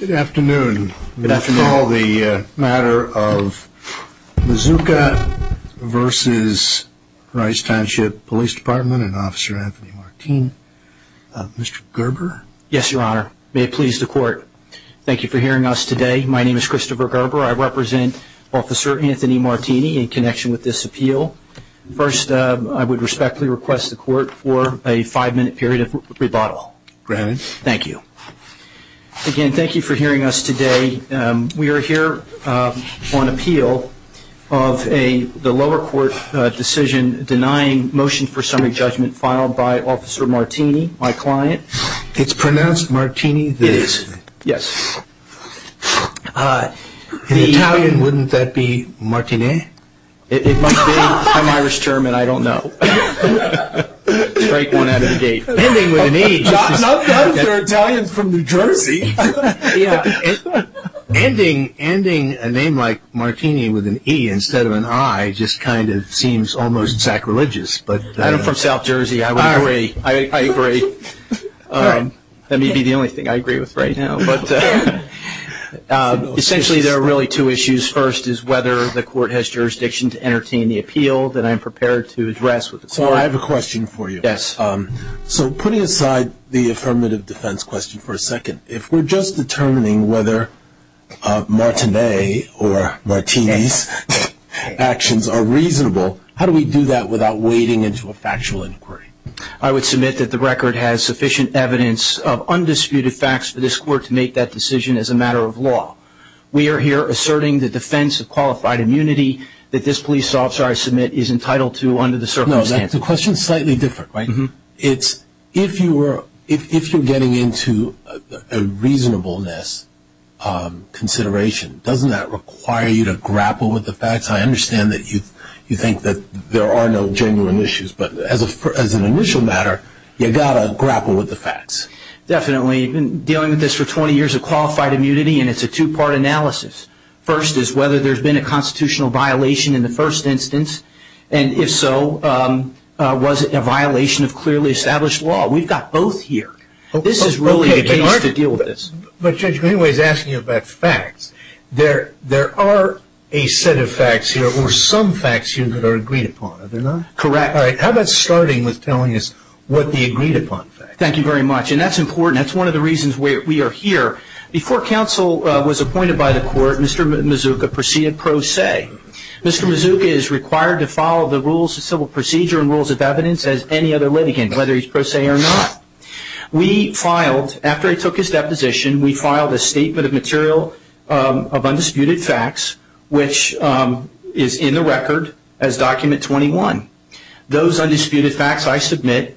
Good afternoon. We call the matter of Mizuka v. Rice Township Police Department and Officer Anthony Martini. Mr. Gerber? Yes, Your Honor. May it please the Court. Thank you for hearing us today. My name is Christopher Gerber. I represent Officer Anthony Martini in connection with this appeal. First, I would respectfully request the Court for a five-minute period of rebuttal. Granted. Thank you. Again, thank you for hearing us today. We are here on appeal of the lower court decision denying motion for summary judgment filed by Officer Martini, my client. It's pronounced Martini? It is. Yes. In Italian, wouldn't that be Martine? It must be. I'm Irish, Chairman. I don't know. Strike one out of the gate. Ending with an E. Those are Italians from New Jersey. Ending a name like Martini with an E instead of an I just kind of seems almost sacrilegious. I'm from South Jersey. I agree. That may be the only thing I agree with right now. Essentially, there are really two issues. The first is whether the Court has jurisdiction to entertain the appeal that I'm prepared to address with the Court. I have a question for you. Yes. Putting aside the affirmative defense question for a second, if we're just determining whether Martini or Martini's actions are reasonable, how do we do that without wading into a factual inquiry? I would submit that the record has sufficient evidence of undisputed facts for this Court to make that decision as a matter of law. We are here asserting the defense of qualified immunity that this police officer I submit is entitled to under the circumstances. That's a question slightly different, right? If you're getting into a reasonableness consideration, doesn't that require you to grapple with the facts? I understand that you think that there are no genuine issues, but as an initial matter, you've got to grapple with the facts. Definitely. I've been dealing with this for 20 years of qualified immunity, and it's a two-part analysis. First is whether there's been a constitutional violation in the first instance, and if so, was it a violation of clearly established law? We've got both here. This is really the case to deal with this. But Judge Greenway is asking you about facts. There are a set of facts here or some facts here that are agreed upon, are there not? Correct. How about starting with telling us what the agreed-upon facts are? Thank you very much, and that's important. That's one of the reasons we are here. Before counsel was appointed by the court, Mr. Mazuka proceeded pro se. Mr. Mazuka is required to follow the rules of civil procedure and rules of evidence as any other litigant, whether he's pro se or not. After I took his deposition, we filed a statement of material of undisputed facts, which is in the record as Document 21. Those undisputed facts I submit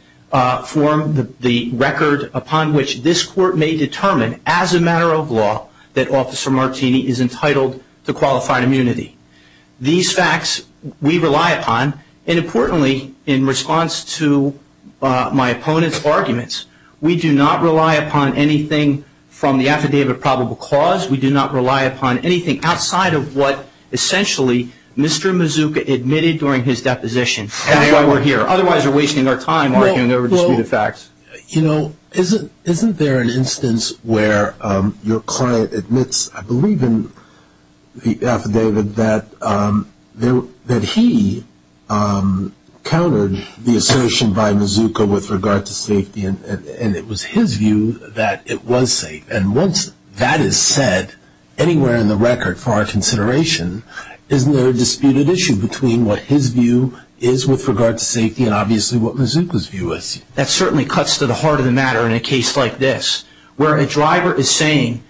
form the record upon which this court may determine as a matter of law that Officer Martini is entitled to qualified immunity. These facts we rely upon, and importantly, in response to my opponent's arguments, we do not rely upon anything from the affidavit of probable cause. We do not rely upon anything outside of what essentially Mr. Mazuka admitted during his deposition. That's why we're here. Otherwise, we're wasting our time arguing over disputed facts. Isn't there an instance where your client admits, I believe in the affidavit, that he countered the assertion by Mazuka with regard to safety, and it was his view that it was safe? And once that is said, anywhere in the record for our consideration, isn't there a disputed issue between what his view is with regard to safety and obviously what Mazuka's view is? That certainly cuts to the heart of the matter in a case like this, where a driver is saying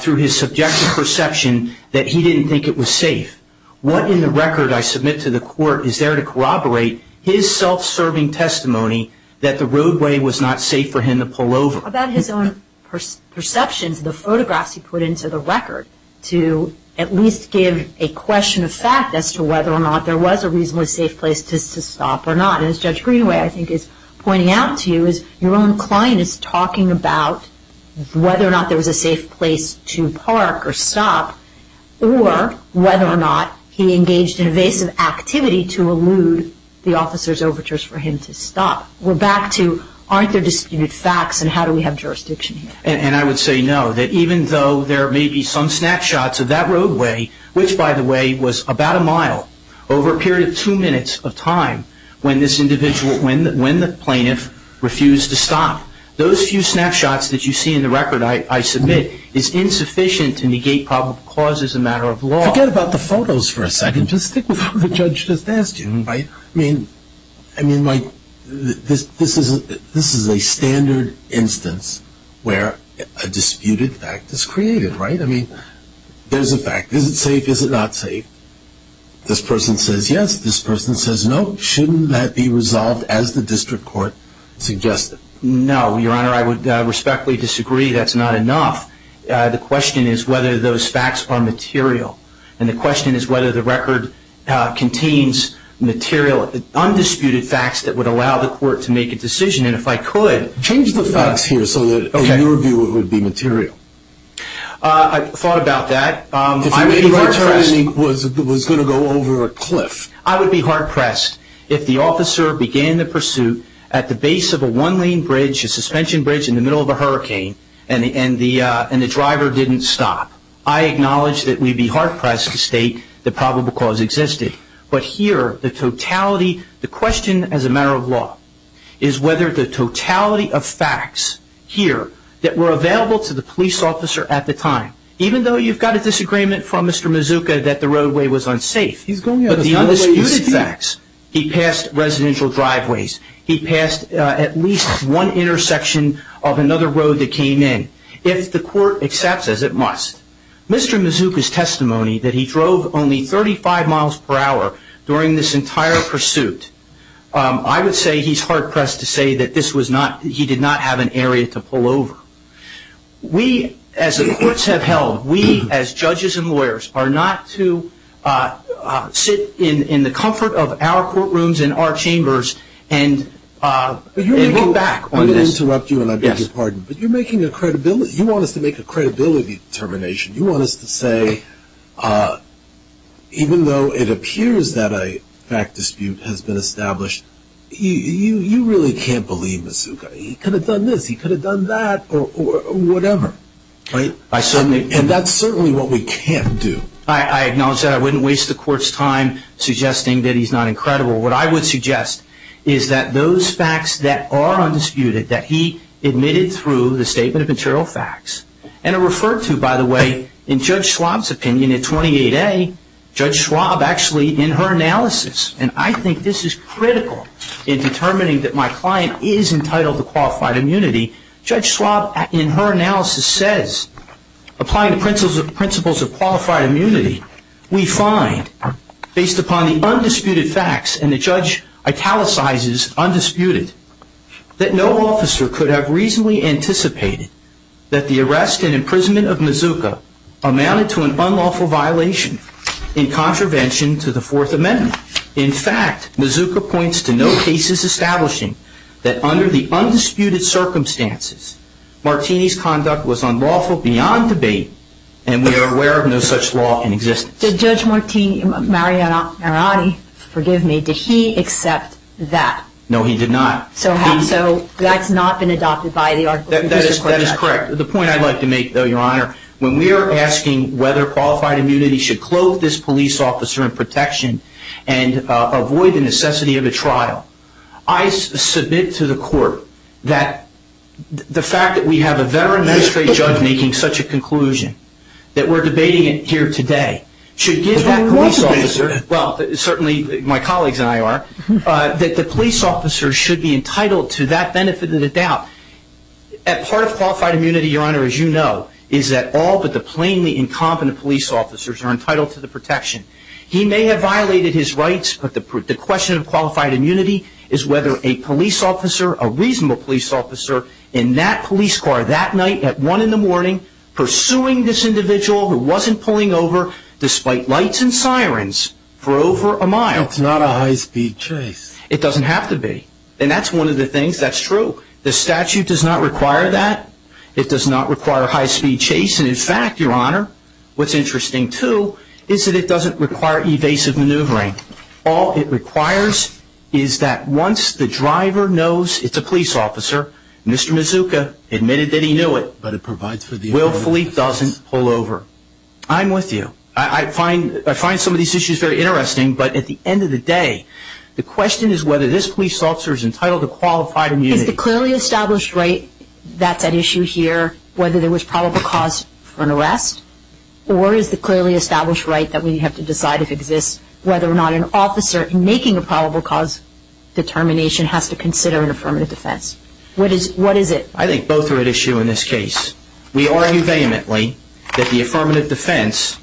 through his subjective perception that he didn't think it was safe. What in the record I submit to the court is there to corroborate his self-serving testimony that the roadway was not safe for him to pull over? About his own perceptions, the photographs he put into the record to at least give a question of fact as to whether or not there was a reasonably safe place to stop or not. As Judge Greenaway, I think, is pointing out to you, is your own client is talking about whether or not there was a safe place to park or stop, or whether or not he engaged in evasive activity to elude the officer's overtures for him to stop. We're back to aren't there disputed facts and how do we have jurisdiction here? And I would say no, that even though there may be some snapshots of that roadway, which by the way was about a mile over a period of two minutes of time when this individual, when the plaintiff refused to stop, those few snapshots that you see in the record I submit is insufficient to negate probable causes as a matter of law. Forget about the photos for a second. Just stick with what the judge just asked you. I mean, this is a standard instance where a disputed fact is created, right? I mean, there's a fact. Is it safe? Is it not safe? This person says yes. This person says no. Shouldn't that be resolved as the district court suggested? No, Your Honor, I would respectfully disagree. That's not enough. The question is whether those facts are material. And the question is whether the record contains material, undisputed facts that would allow the court to make a decision. And if I could. Change the facts here so that in your view it would be material. I've thought about that. If it was going to go over a cliff. I would be hard pressed if the officer began the pursuit at the base of a one-lane bridge, a suspension bridge in the middle of a hurricane, and the driver didn't stop. I acknowledge that we'd be hard pressed to state the probable cause existed. But here, the totality, the question as a matter of law, is whether the totality of facts here that were available to the police officer at the time, even though you've got a disagreement from Mr. Mazuka that the roadway was unsafe. He's going out of his way to speak. But the undisputed facts, he passed residential driveways. He passed at least one intersection of another road that came in. If the court accepts, as it must, Mr. Mazuka's testimony that he drove only 35 miles per hour during this entire pursuit, I would say he's hard pressed to say that this was not, he did not have an area to pull over. We, as the courts have held, we as judges and lawyers are not to sit in the comfort of our courtrooms and our chambers and look back on this. I'm going to interrupt you and I beg your pardon. But you're making a credibility, you want us to make a credibility determination. You want us to say, even though it appears that a fact dispute has been established, you really can't believe Mazuka. He could have done this, he could have done that, or whatever. And that's certainly what we can't do. I acknowledge that. I wouldn't waste the court's time suggesting that he's not incredible. What I would suggest is that those facts that are undisputed, that he admitted through the statement of material facts, and are referred to, by the way, in Judge Schwab's opinion in 28A, Judge Schwab actually in her analysis, and I think this is critical in determining that my client is entitled to qualified immunity, Judge Schwab in her analysis says, applying the principles of qualified immunity, we find, based upon the undisputed facts, and the judge italicizes undisputed, that no officer could have reasonably anticipated that the arrest and imprisonment of Mazuka amounted to an unlawful violation in contravention to the Fourth Amendment. In fact, Mazuka points to no cases establishing that under the undisputed circumstances, Martini's conduct was unlawful beyond debate, and we are aware of no such law in existence. Did Judge Martini, Mariani, forgive me, did he accept that? No, he did not. So that's not been adopted by the article. That is correct. The point I'd like to make, though, Your Honor, when we are asking whether qualified immunity should clothe this police officer in protection and avoid the necessity of a trial, I submit to the court that the fact that we have a veteran magistrate judge making such a conclusion, that we're debating it here today, should give that police officer, well, certainly my colleagues and I are, that the police officer should be entitled to that benefit of the doubt. That part of qualified immunity, Your Honor, as you know, is that all but the plainly incompetent police officers are entitled to the protection. He may have violated his rights, but the question of qualified immunity is whether a police officer, a reasonable police officer, in that police car that night at one in the morning, pursuing this individual who wasn't pulling over, despite lights and sirens, for over a mile. That's not a high-speed chase. It doesn't have to be. And that's one of the things that's true. The statute does not require that. It does not require a high-speed chase. And in fact, Your Honor, what's interesting, too, is that it doesn't require evasive maneuvering. All it requires is that once the driver knows it's a police officer, Mr. Mazzucca admitted that he knew it, willfully doesn't pull over. I'm with you. I find some of these issues very interesting, but at the end of the day, the question is whether this police officer is entitled to qualified immunity. Is the clearly established right that's at issue here whether there was probable cause for an arrest, or is the clearly established right that we have to decide if it exists whether or not an officer making a probable cause determination has to consider an affirmative defense? What is it? I think both are at issue in this case. We argue vehemently that the affirmative defense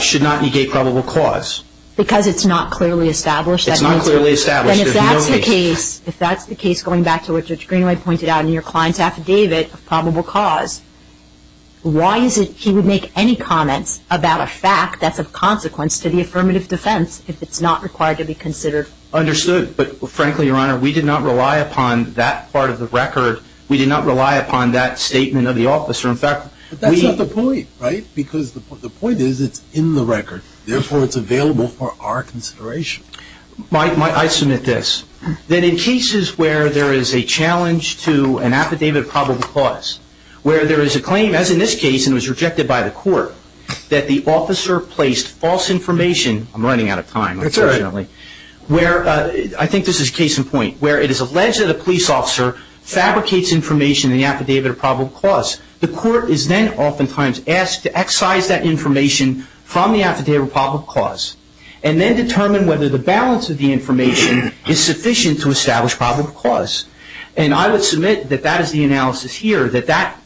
should not negate probable cause. Because it's not clearly established? It's not clearly established. If that's the case, going back to what Judge Greenway pointed out in your client's affidavit of probable cause, why is it he would make any comments about a fact that's a consequence to the affirmative defense if it's not required to be considered? Understood. But, frankly, Your Honor, we did not rely upon that part of the record. We did not rely upon that statement of the officer. In fact, we- But that's not the point, right? Because the point is it's in the record. Therefore, it's available for our consideration. I submit this. That in cases where there is a challenge to an affidavit of probable cause, where there is a claim, as in this case, and it was rejected by the court, that the officer placed false information- I'm running out of time, unfortunately. That's all right. Where- I think this is case in point- where it is alleged that a police officer fabricates information in the affidavit of probable cause. The court is then oftentimes asked to excise that information from the affidavit of probable cause and then determine whether the balance of the information is sufficient to establish probable cause. And I would submit that that is the analysis here, that that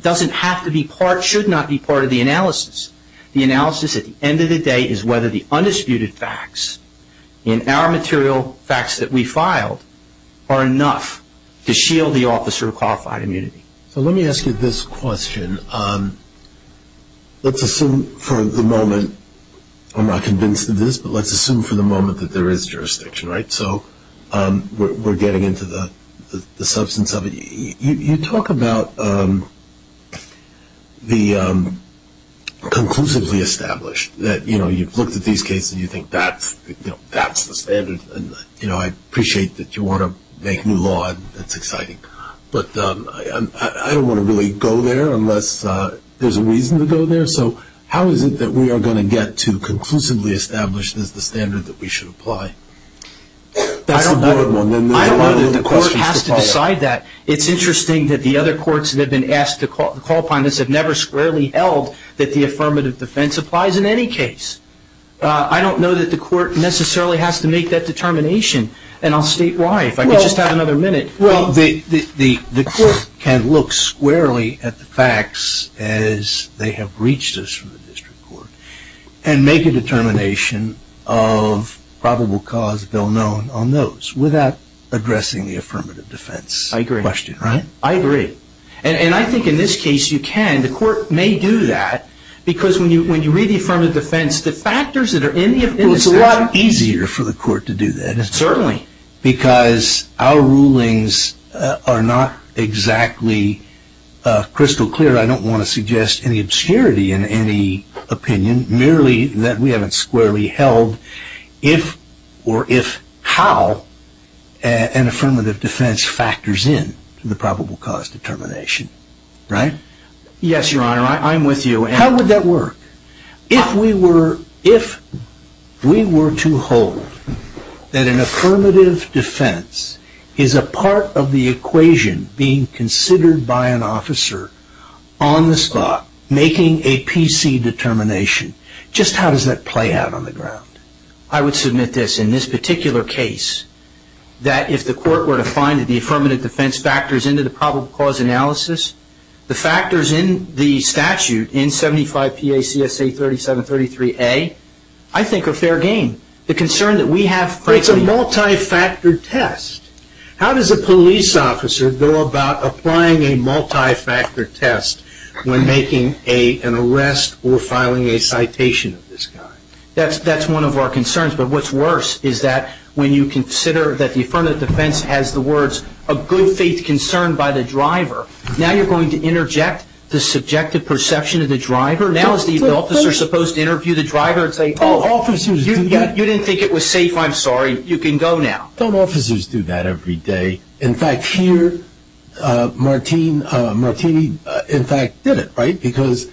doesn't have to be part- should not be part of the analysis. The analysis at the end of the day is whether the undisputed facts in our material facts that we filed are enough to shield the officer of qualified immunity. So let me ask you this question. Let's assume for the moment- I'm not convinced of this, but let's assume for the moment that there is jurisdiction, right? So we're getting into the substance of it. You talk about the conclusively established, that you've looked at these cases and you think that's the standard, and I appreciate that you want to make new law and that's exciting, but I don't want to really go there unless there's a reason to go there. So how is it that we are going to get to conclusively established as the standard that we should apply? That's the broad one. I don't know that the court has to decide that. It's interesting that the other courts that have been asked to call upon this have never squarely held that the affirmative defense applies in any case. I don't know that the court necessarily has to make that determination. And I'll state why, if I could just have another minute. Well, the court can look squarely at the facts as they have reached us from the district court and make a determination of probable cause bill known on those without addressing the affirmative defense question, right? I agree. And I think in this case you can. The court may do that because when you read the affirmative defense, the factors that are in the affirmative defense- Well, it's a lot easier for the court to do that. Certainly. Because our rulings are not exactly crystal clear. I don't want to suggest any obscurity in any opinion, merely that we haven't squarely held if or if how an affirmative defense factors in to the probable cause determination, right? Yes, Your Honor. I'm with you. How would that work? If we were to hold that an affirmative defense is a part of the equation being considered by an officer on the spot making a PC determination, just how does that play out on the ground? I would submit this. In this particular case, that if the court were to find that the affirmative defense factors into the probable cause analysis, the factors in the statute in 75 P.A.C.S.A. 3733A, I think are fair game. The concern that we have- But it's a multi-factor test. How does a police officer go about applying a multi-factor test when making an arrest or filing a citation of this kind? That's one of our concerns. But what's worse is that when you consider that the affirmative defense has the words of good faith concern by the driver, now you're going to interject the subjective perception of the driver? Now is the officer supposed to interview the driver and say, Oh, you didn't think it was safe. I'm sorry. You can go now. Don't officers do that every day? In fact, here, Martini, in fact, did it, right? Because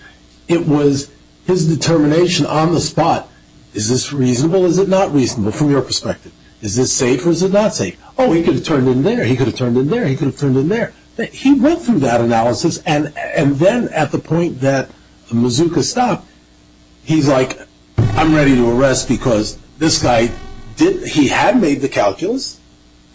it was his determination on the spot. Is this reasonable? Is it not reasonable from your perspective? Is this safe or is it not safe? Oh, he could have turned in there. He could have turned in there. He could have turned in there. He went through that analysis, and then at the point that Mazuka stopped, he's like, I'm ready to arrest because this guy, he had made the calculus,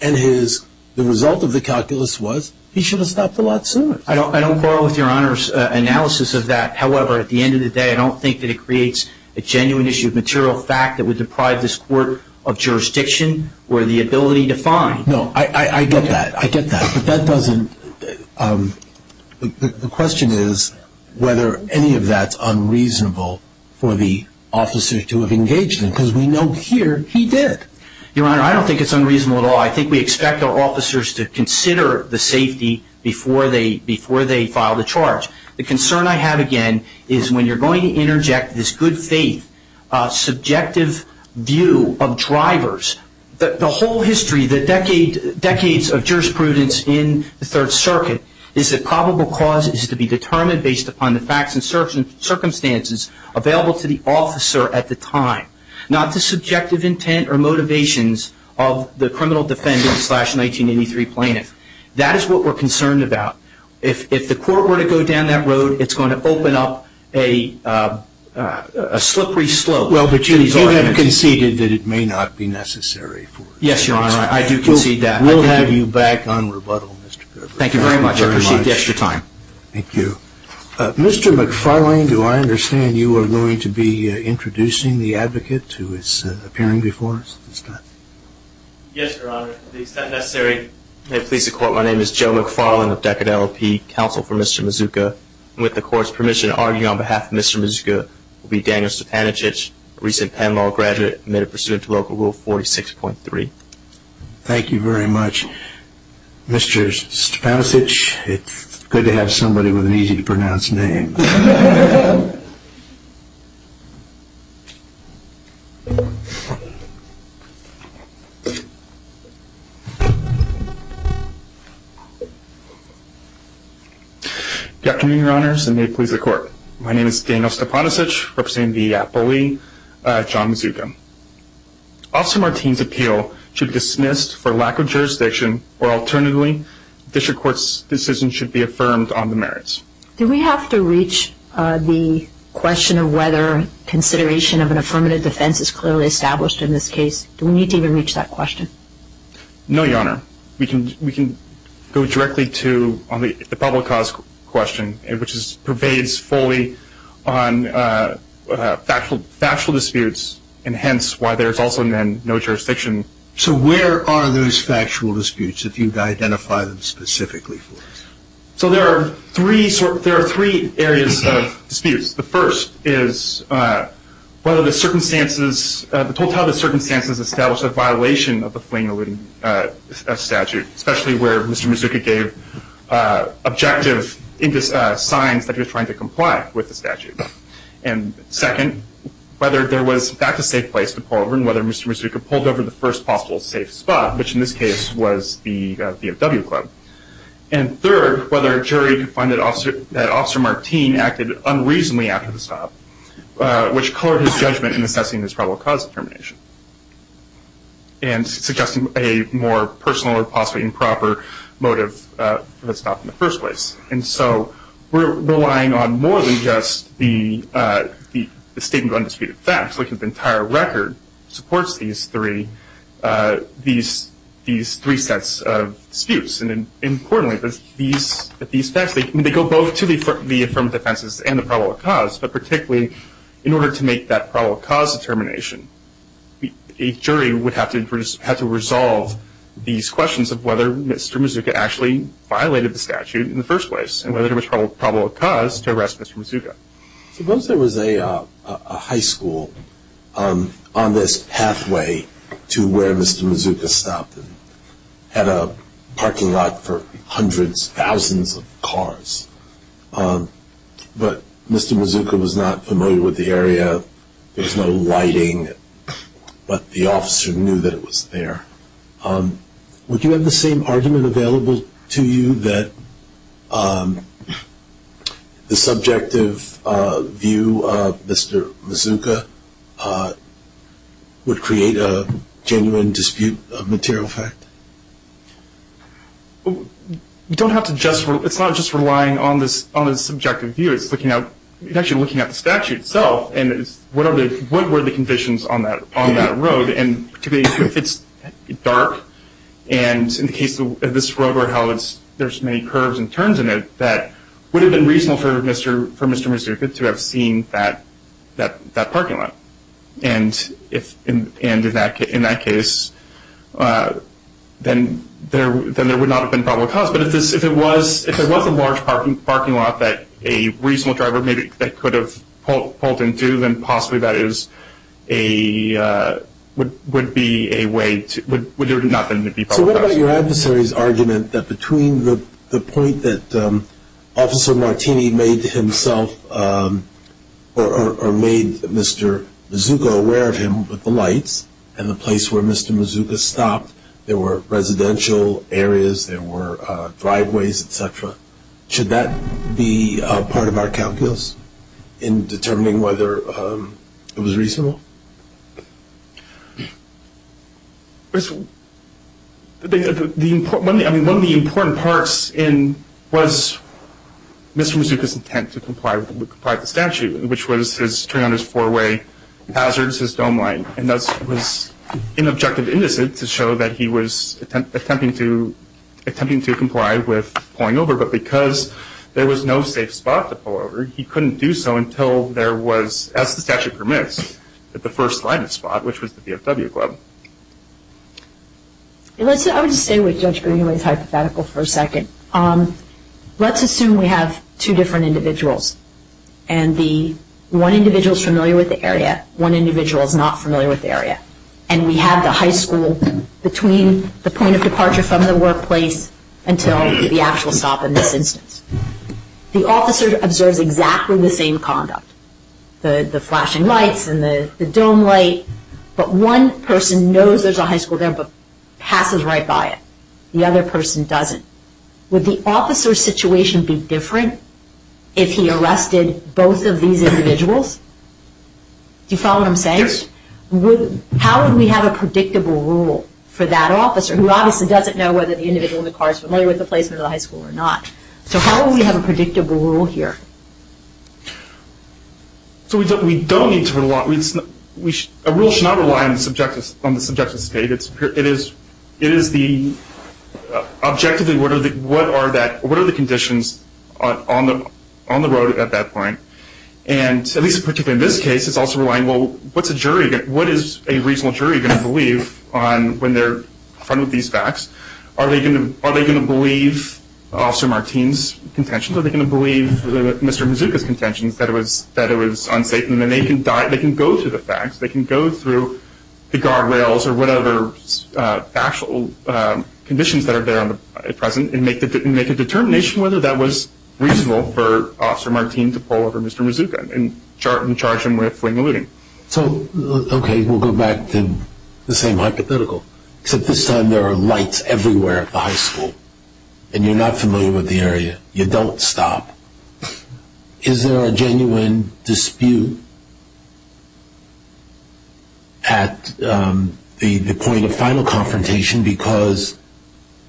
and the result of the calculus was he should have stopped a lot sooner. I don't quarrel with Your Honor's analysis of that. However, at the end of the day, I don't think that it creates a genuine issue of material fact that would deprive this court of jurisdiction or the ability to find. No, I get that. I get that. But that doesn't – the question is whether any of that's unreasonable for the officer to have engaged him because we know here he did. Your Honor, I don't think it's unreasonable at all. I think we expect our officers to consider the safety before they file the charge. The concern I have, again, is when you're going to interject this good faith, subjective view of drivers, the whole history, the decades of jurisprudence in the Third Circuit is that probable cause is to be determined based upon the facts and circumstances available to the officer at the time, not the subjective intent or motivations of the criminal defendant slash 1983 plaintiff. That is what we're concerned about. If the court were to go down that road, it's going to open up a slippery slope. Well, but you have conceded that it may not be necessary. Yes, Your Honor, I do concede that. We'll have you back on rebuttal, Mr. Perver. Thank you very much. I appreciate the extra time. Thank you. Mr. McFarlane, do I understand you are going to be introducing the advocate who is appearing before us this time? Yes, Your Honor. Your Honor, to the extent necessary, may it please the Court, my name is Joe McFarlane of Decadelo P. Counsel for Mr. Mazuka. With the Court's permission to argue on behalf of Mr. Mazuka, it will be Daniel Stepanovich, a recent Penn Law graduate admitted pursuant to Local Rule 46.3. Thank you very much. Mr. Stepanovich, it's good to have somebody with an easy to pronounce name. Thank you. Good afternoon, Your Honors, and may it please the Court. My name is Daniel Stepanovich, representing the bully, John Mazuka. Officer Martin's appeal should be dismissed for lack of jurisdiction, or alternatively, the District Court's decision should be affirmed on the merits. Do we have to reach the question of whether consideration of an affirmative defense is clearly established in this case? Do we need to even reach that question? No, Your Honor. We can go directly to the public cause question, which pervades fully on factual disputes, and hence why there is also no jurisdiction. So where are those factual disputes if you identify them specifically for us? So there are three areas of disputes. The first is whether the circumstances, the totality of the circumstances established a violation of the Fling-Eluding statute, especially where Mr. Mazuka gave objective signs that he was trying to comply with the statute. And second, whether there was, in fact, a safe place to pull over, and whether Mr. Mazuka pulled over the first possible safe spot, which in this case was the BMW club. And third, whether a jury could find that Officer Martine acted unreasonably after the stop, which colored his judgment in assessing his probable cause determination and suggesting a more personal or possibly improper motive for the stop in the first place. And so we're relying on more than just the statement of undisputed facts. The entire record supports these three sets of disputes. And importantly, these facts, they go both to the affirmative defenses and the probable cause, but particularly in order to make that probable cause determination, a jury would have to resolve these questions of whether Mr. Mazuka actually violated the statute in the first place and whether there was probable cause to arrest Mr. Mazuka. Suppose there was a high school on this pathway to where Mr. Mazuka stopped and had a parking lot for hundreds, thousands of cars, but Mr. Mazuka was not familiar with the area. There was no lighting, but the officer knew that it was there. Would you have the same argument available to you that the subjective view of Mr. Mazuka would create a genuine dispute of material fact? It's not just relying on the subjective view. It's actually looking at the statute itself and what were the conditions on that road and particularly if it's dark. And in the case of this road where there's many curves and turns in it, that would have been reasonable for Mr. Mazuka to have seen that parking lot. And in that case, then there would not have been probable cause. But if it was a large parking lot that a reasonable driver maybe could have pulled into, then possibly that would be a way to do nothing. So what about your adversary's argument that between the point that Officer Martini made himself or made Mr. Mazuka aware of him with the lights and the place where Mr. Mazuka stopped, there were residential areas, there were driveways, et cetera, should that be part of our calculus in determining whether it was reasonable? One of the important parts was Mr. Mazuka's intent to comply with the statute, which was his turning on his four-way hazards, his dome line. And thus it was inobjective indecent to show that he was attempting to comply with pulling over. But because there was no safe spot to pull over, he couldn't do so until there was, as the statute permits, the first line of spot, which was the VFW club. I would just stay with Judge Greenaway's hypothetical for a second. Let's assume we have two different individuals and one individual is familiar with the area, one individual is not familiar with the area, and we have the high school between the point of departure from the workplace until the actual stop in this instance. The officer observes exactly the same conduct, the flashing lights and the dome light, but one person knows there's a high school there but passes right by it. The other person doesn't. Would the officer's situation be different if he arrested both of these individuals? Do you follow what I'm saying? Yes. How would we have a predictable rule for that officer, who obviously doesn't know whether the individual in the car is familiar with the placement of the high school or not? So how would we have a predictable rule here? So we don't need to rely on this. A rule should not rely on the subjective state. Objectively, what are the conditions on the road at that point? And at least particularly in this case, it's also relying, well, what's a jury going to believe when they're confronted with these facts? Are they going to believe Officer Martin's contentions? Are they going to believe Mr. Mazuka's contentions, that it was unsafe? And then they can go through the facts. They can go through the guardrails or whatever actual conditions that are there at present and make a determination whether that was reasonable for Officer Martin to pull over Mr. Mazuka and charge him with fling and looting. So, okay, we'll go back to the same hypothetical, except this time there are lights everywhere at the high school, and you're not familiar with the area. You don't stop. Is there a genuine dispute at the point of final confrontation? Because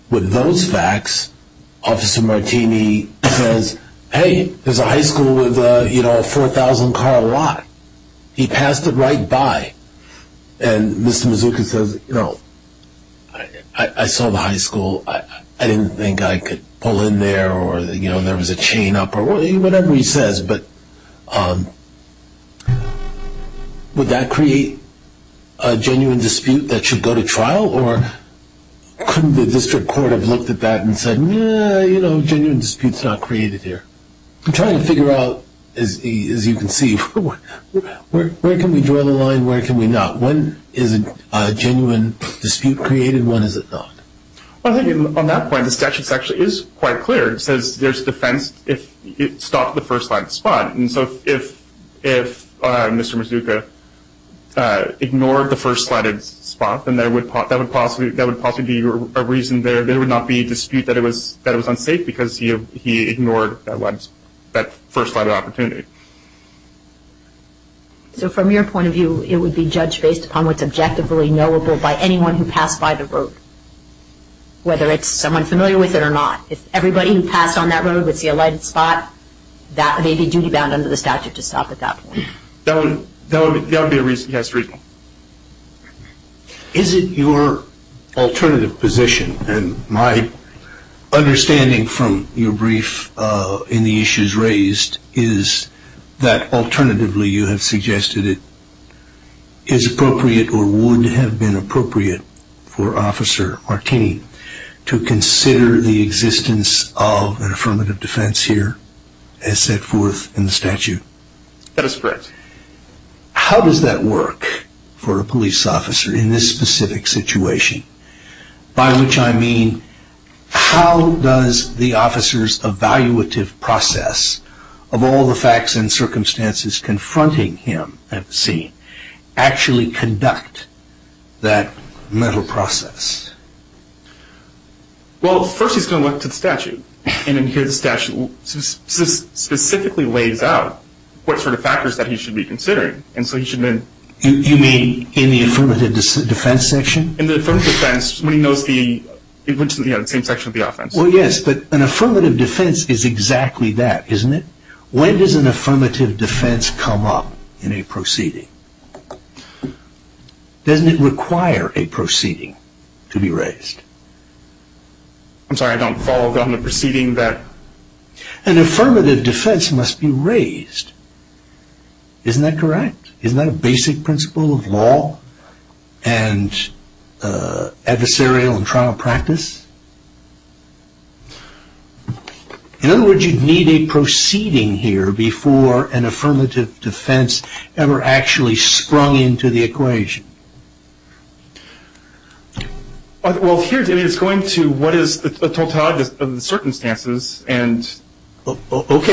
with those facts, Officer Martini says, hey, there's a high school with a 4,000-car lot. He passed it right by. And Mr. Mazuka says, no, I saw the high school. I didn't think I could pull in there or there was a chain up or whatever he says. But would that create a genuine dispute that should go to trial, or couldn't the district court have looked at that and said, no, genuine dispute's not created here? I'm trying to figure out, as you can see, where can we draw the line, where can we not? When is a genuine dispute created and when is it not? Well, I think on that point, the statute actually is quite clear. It says there's defense if it stopped at the first light spot. And so if Mr. Mazuka ignored the first lighted spot, then that would possibly be a reason there. There would not be a dispute that it was unsafe because he ignored that first lighted opportunity. So from your point of view, it would be judged based upon what's objectively knowable by anyone who passed by the road, whether it's someone familiar with it or not. If everybody who passed on that road would see a lighted spot, that may be duty-bound under the statute to stop at that point. That would be a reason, yes, reasonable. Is it your alternative position, and my understanding from your brief in the issues raised is that alternatively, you have suggested it is appropriate or would have been appropriate for Officer Martini to consider the existence of an affirmative defense here as set forth in the statute? That is correct. How does that work for a police officer in this specific situation by which I mean how does the officer's evaluative process of all the facts and circumstances confronting him actually conduct that mental process? Well, first he's going to look to the statute, and here the statute specifically lays out what sort of factors that he should be considering. You mean in the affirmative defense section? In the affirmative defense when he knows the same section of the offense. Well, yes, but an affirmative defense is exactly that, isn't it? When does an affirmative defense come up in a proceeding? Doesn't it require a proceeding to be raised? I'm sorry, I don't follow on the proceeding that... An affirmative defense must be raised. Isn't that correct? Isn't that a basic principle of law and adversarial in trial practice? In other words, you'd need a proceeding here before an affirmative defense ever actually sprung into the equation. Well, here it is going to what is the totality of the circumstances and... I'm wondering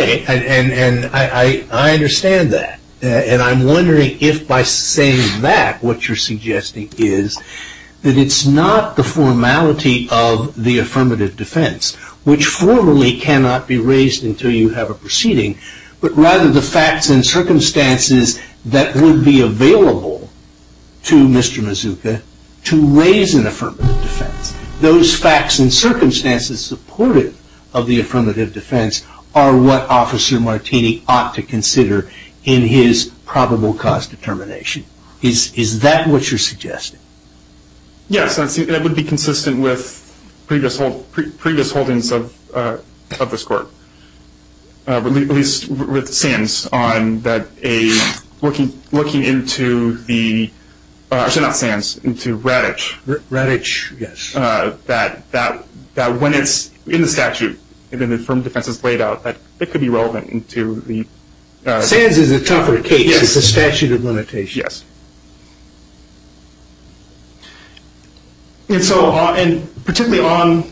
if by saying that what you're suggesting is that it's not the formality of the affirmative defense, which formally cannot be raised until you have a proceeding, but rather the facts and circumstances that would be available to Mr. Mazuka to raise an affirmative defense. Those facts and circumstances supportive of the affirmative defense are what Officer Martini ought to consider in his probable cause determination. Is that what you're suggesting? Yes, and it would be consistent with previous holdings of this court. At least with SANS on that looking into the... Sorry, not SANS, into RADIC. RADIC, yes. That when it's in the statute and an affirmative defense is laid out, it could be relevant to the... SANS is a tougher case. Yes. It's a statute of limitations. Yes. And so, particularly on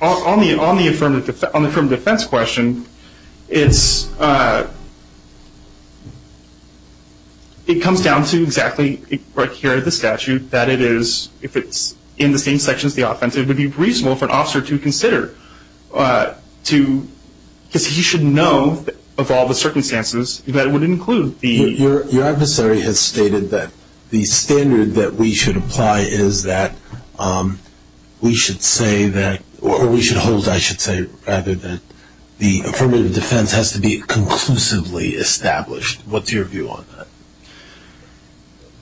the affirmative defense question, it comes down to exactly right here in the statute that it is, if it's in the same section as the offensive, it would be reasonable for an officer to consider, because he should know of all the circumstances that it would include the... What we should apply is that we should say that, or we should hold, I should say, rather than the affirmative defense has to be conclusively established. What's your view on that?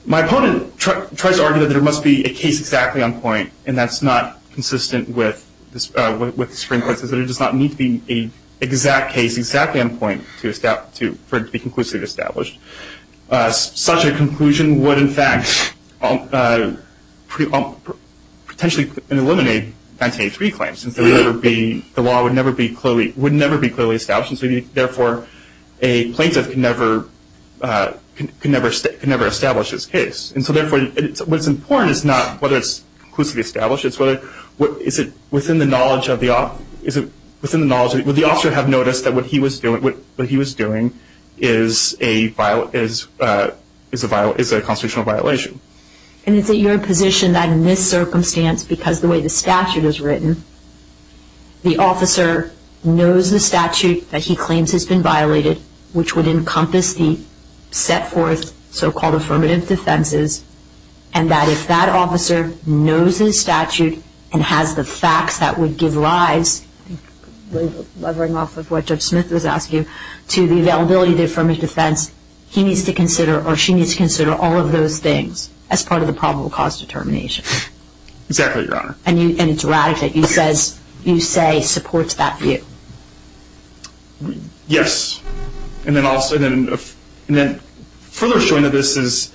My opponent tries to argue that there must be a case exactly on point, and that's not consistent with the Supreme Court's decision. It does not need to be an exact case exactly on point for it to be conclusively established. Such a conclusion would, in fact, potentially eliminate 1983 claims, since the law would never be clearly established, and so, therefore, a plaintiff can never establish this case. And so, therefore, what's important is not whether it's conclusively established, but is it within the knowledge of the... Would the officer have noticed that what he was doing is a constitutional violation? And is it your position that in this circumstance, because the way the statute is written, the officer knows the statute that he claims has been violated, which would encompass the set forth so-called affirmative defenses, and that if that officer knows his statute and has the facts that would give rise, I think levering off of what Judge Smith was asking, to the availability of the affirmative defense, he needs to consider or she needs to consider all of those things as part of the probable cause determination. Exactly, Your Honor. And it's right that you say supports that view. Yes. And then further showing that this is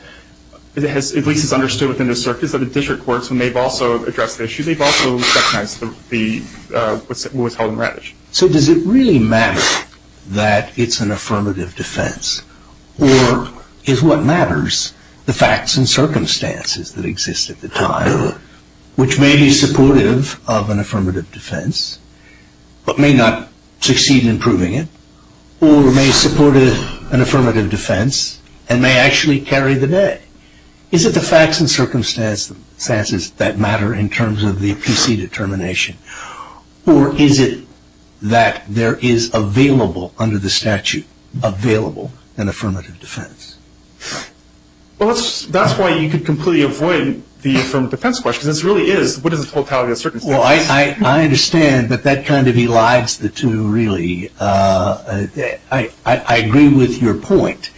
at least understood within the circuits of the district courts when they've also addressed the issue, they've also recognized what was held in red. So does it really matter that it's an affirmative defense, or is what matters the facts and circumstances that exist at the time, which may be supportive of an affirmative defense, but may not succeed in proving it, or may support an affirmative defense and may actually carry the day? Is it the facts and circumstances that matter in terms of the PC determination, or is it that there is available under the statute, available an affirmative defense? Well, that's why you could completely avoid the affirmative defense question. It really is. What is the totality of the circumstances? Well, I understand, but that kind of elides the two, really. I agree with your point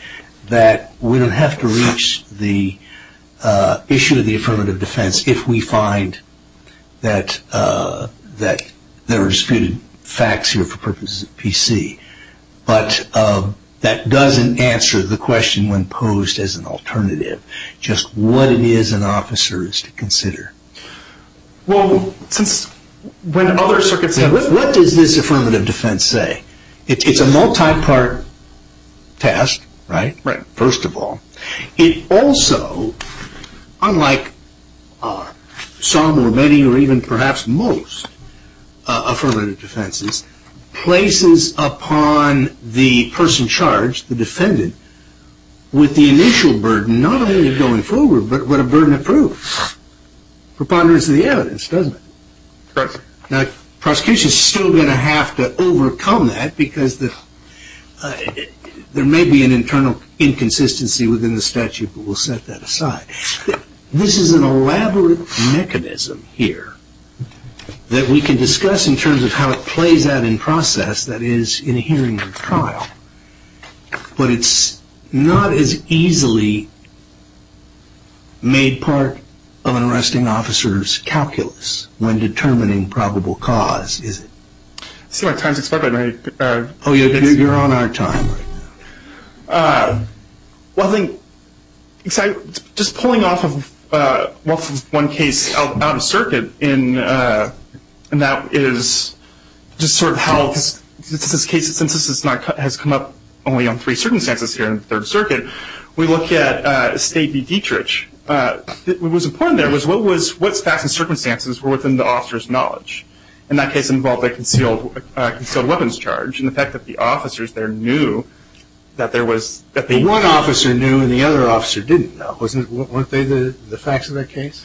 that we don't have to reach the issue of the affirmative defense if we find that there are disputed facts here for purposes of PC. But that doesn't answer the question when posed as an alternative, Well, what does this affirmative defense say? It's a multi-part test, right, first of all. It also, unlike some or many or even perhaps most affirmative defenses, places upon the person charged, the defendant, with the initial burden, and not only going forward, but a burden of proof, preponderance of the evidence, doesn't it? Correct. Now, prosecution is still going to have to overcome that because there may be an internal inconsistency within the statute, but we'll set that aside. This is an elaborate mechanism here that we can discuss in terms of how it plays out in process, that is, in a hearing or trial. But it's not as easily made part of an arresting officer's calculus when determining probable cause, is it? I see my time's expired. One thing, just pulling off of one case out of circuit, and that is just sort of how, since this case has come up only on three circumstances here in the Third Circuit, we look at State v. Dietrich. What was important there was what facts and circumstances were within the officer's knowledge. In that case involved a concealed weapons charge, and the fact that the officers there knew that there was – One officer knew and the other officer didn't know. Weren't they the facts of that case?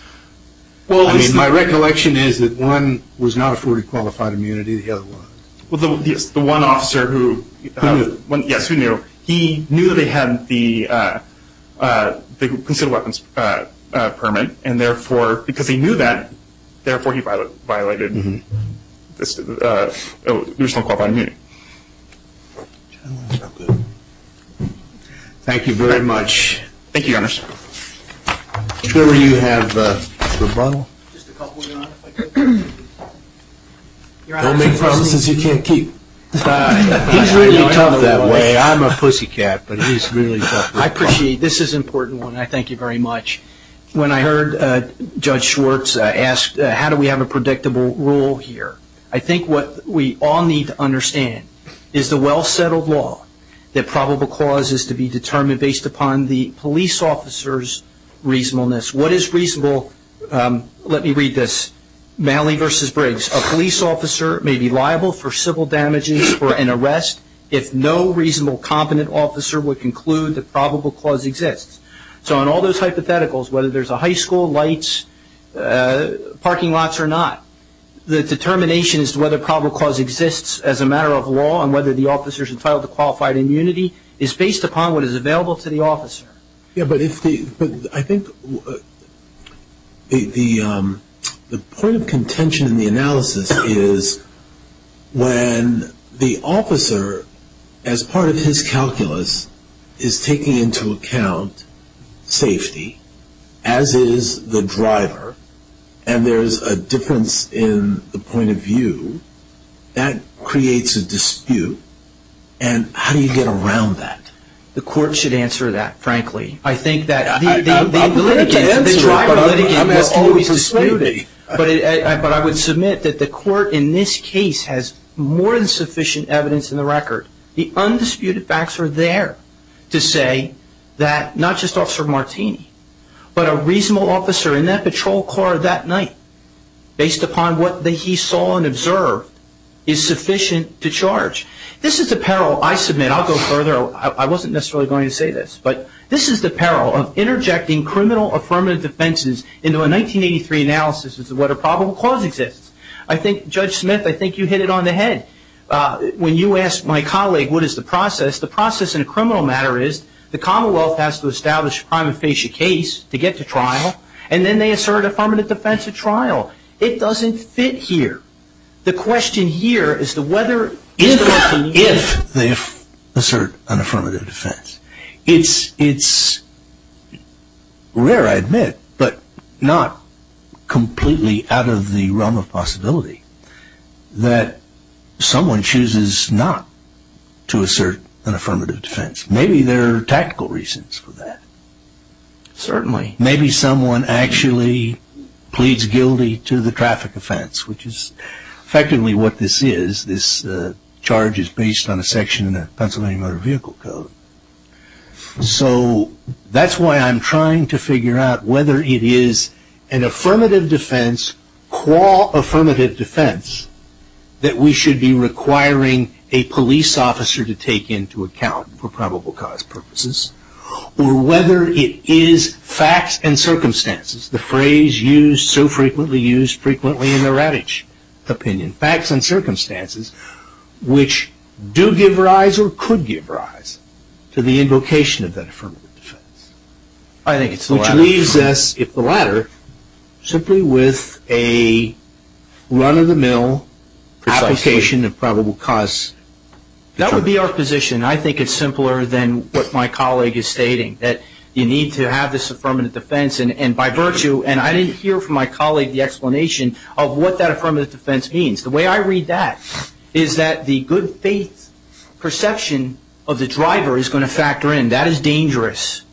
I mean, my recollection is that one was not afforded qualified immunity, the other was. Well, yes, the one officer who – Who knew? Yes, who knew? He knew they had the concealed weapons permit, and therefore, because he knew that, therefore, he violated the original qualified immunity. Thank you very much. Thank you, Your Honor. Trevor, you have a rebuttal? Don't make promises you can't keep. He's really tough that way. I'm a pussycat, but he's really tough. I appreciate it. This is an important one, and I thank you very much. When I heard Judge Schwartz ask how do we have a predictable rule here, I think what we all need to understand is the well-settled law that probable cause is to be determined based upon the police officer's reasonableness. What is reasonable? Let me read this. Malley v. Briggs, a police officer may be liable for civil damages for an arrest if no reasonable, competent officer would conclude that probable cause exists. So in all those hypotheticals, whether there's a high school, lights, parking lots or not, the determination as to whether probable cause exists as a matter of law and whether the officer's entitled to qualified immunity is based upon what is available to the officer. Yes, but I think the point of contention in the analysis is when the officer, as part of his calculus, is taking into account safety, as is the driver, and there's a difference in the point of view, that creates a dispute. And how do you get around that? The court should answer that, frankly. I think that the driver litigant will always dispute it. But I would submit that the court in this case has more than sufficient evidence in the record. The undisputed facts are there to say that not just Officer Martini, but a reasonable officer in that patrol car that night, based upon what he saw and observed, is sufficient to charge. This is the peril, I submit, I'll go further, I wasn't necessarily going to say this, but this is the peril of interjecting criminal affirmative defenses into a 1983 analysis as to whether probable cause exists. I think, Judge Smith, I think you hit it on the head. When you asked my colleague what is the process, the process in a criminal matter is the Commonwealth has to establish a prime and facie case to get to trial, and then they assert an affirmative defense at trial. It doesn't fit here. The question here is whether or if they assert an affirmative defense. It's rare, I admit, but not completely out of the realm of possibility, that someone chooses not to assert an affirmative defense. Maybe there are tactical reasons for that. Certainly. Maybe someone actually pleads guilty to the traffic offense, which is effectively what this is. This charge is based on a section of the Pennsylvania Motor Vehicle Code. So that's why I'm trying to figure out whether it is an affirmative defense, qua affirmative defense, that we should be requiring a police officer to take into account for probable cause purposes, or whether it is facts and circumstances. The phrase used so frequently, used frequently in the Ravitch opinion. Facts and circumstances which do give rise or could give rise to the invocation of that affirmative defense. I think it's the latter. Which leaves us, if the latter, simply with a run-of-the-mill application of probable cause. That would be our position. I think it's simpler than what my colleague is stating, that you need to have this affirmative defense, and by virtue, and I didn't hear from my colleague the explanation of what that affirmative defense means. The way I read that is that the good faith perception of the driver is going to factor in. That is dangerous.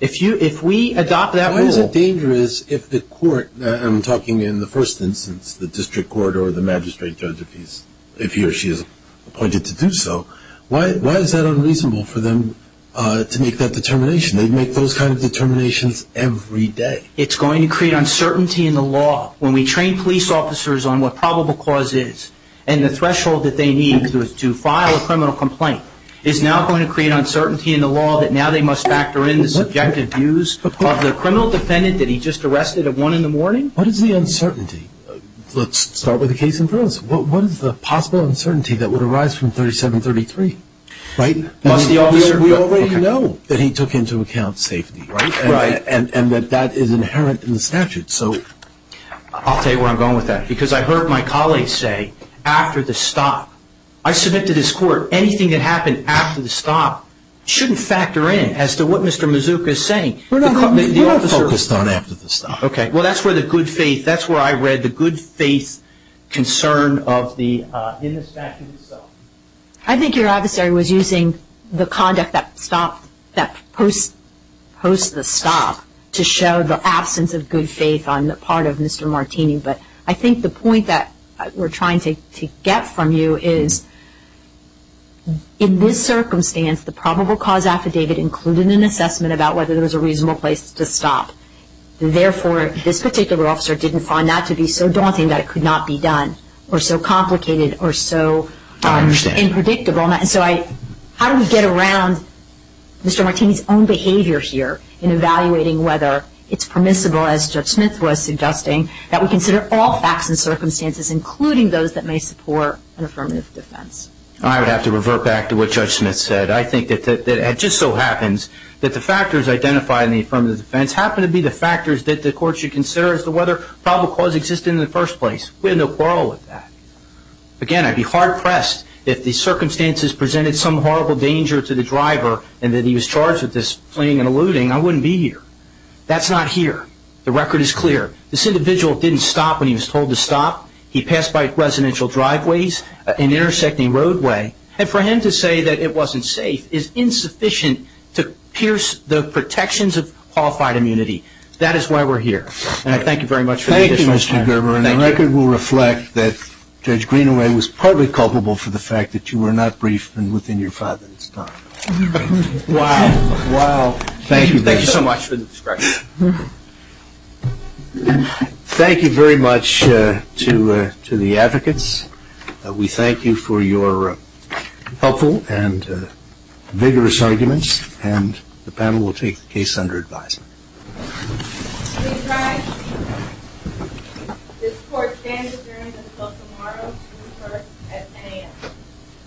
If we adopt that rule. Why is it dangerous if the court, I'm talking in the first instance, the district court or the magistrate, if he or she is appointed to do so, why is that unreasonable for them to make that determination? They make those kinds of determinations every day. It's going to create uncertainty in the law. When we train police officers on what probable cause is, and the threshold that they need to file a criminal complaint is now going to create uncertainty in the law that now they must factor in the subjective views of the criminal defendant that he just arrested at 1 in the morning? What is the uncertainty? Let's start with the case in front of us. What is the possible uncertainty that would arise from 3733? We already know that he took into account safety. And that that is inherent in the statute. I'll tell you where I'm going with that. Because I heard my colleague say, after the stop, I submit to this court, anything that happened after the stop shouldn't factor in as to what Mr. Mazuka is saying. We're not focused on after the stop. Well, that's where the good faith, that's where I read the good faith concern in the statute itself. I think your adversary was using the conduct that post the stop to show the absence of good faith on the part of Mr. Martini. But I think the point that we're trying to get from you is, in this circumstance, the probable cause affidavit included an assessment about whether there was a reasonable place to stop. Therefore, this particular officer didn't find that to be so daunting that it could not be done, or so complicated, or so unpredictable. So how do we get around Mr. Martini's own behavior here in evaluating whether it's permissible, as Judge Smith was suggesting, that we consider all facts and circumstances, including those that may support an affirmative defense? I would have to revert back to what Judge Smith said. I think that it just so happens that the factors identified in the affirmative defense happen to be the factors that the court should consider as to whether probable cause exists in the first place. We have no quarrel with that. Again, I'd be hard pressed if the circumstances presented some horrible danger to the driver and that he was charged with this fleeing and eluding, I wouldn't be here. That's not here. The record is clear. This individual didn't stop when he was told to stop. He passed by residential driveways, an intersecting roadway. And for him to say that it wasn't safe is insufficient to pierce the protections of qualified immunity. That is why we're here. And I thank you very much for the additional time. Thank you, Mr. Gerber. And the record will reflect that Judge Greenaway was partly culpable for the fact that you were not briefed and within your father's time. Wow. Wow. Thank you. Thank you so much for the description. Thank you very much to the advocates. We thank you for your helpful and vigorous arguments. And the panel will take the case under advisement.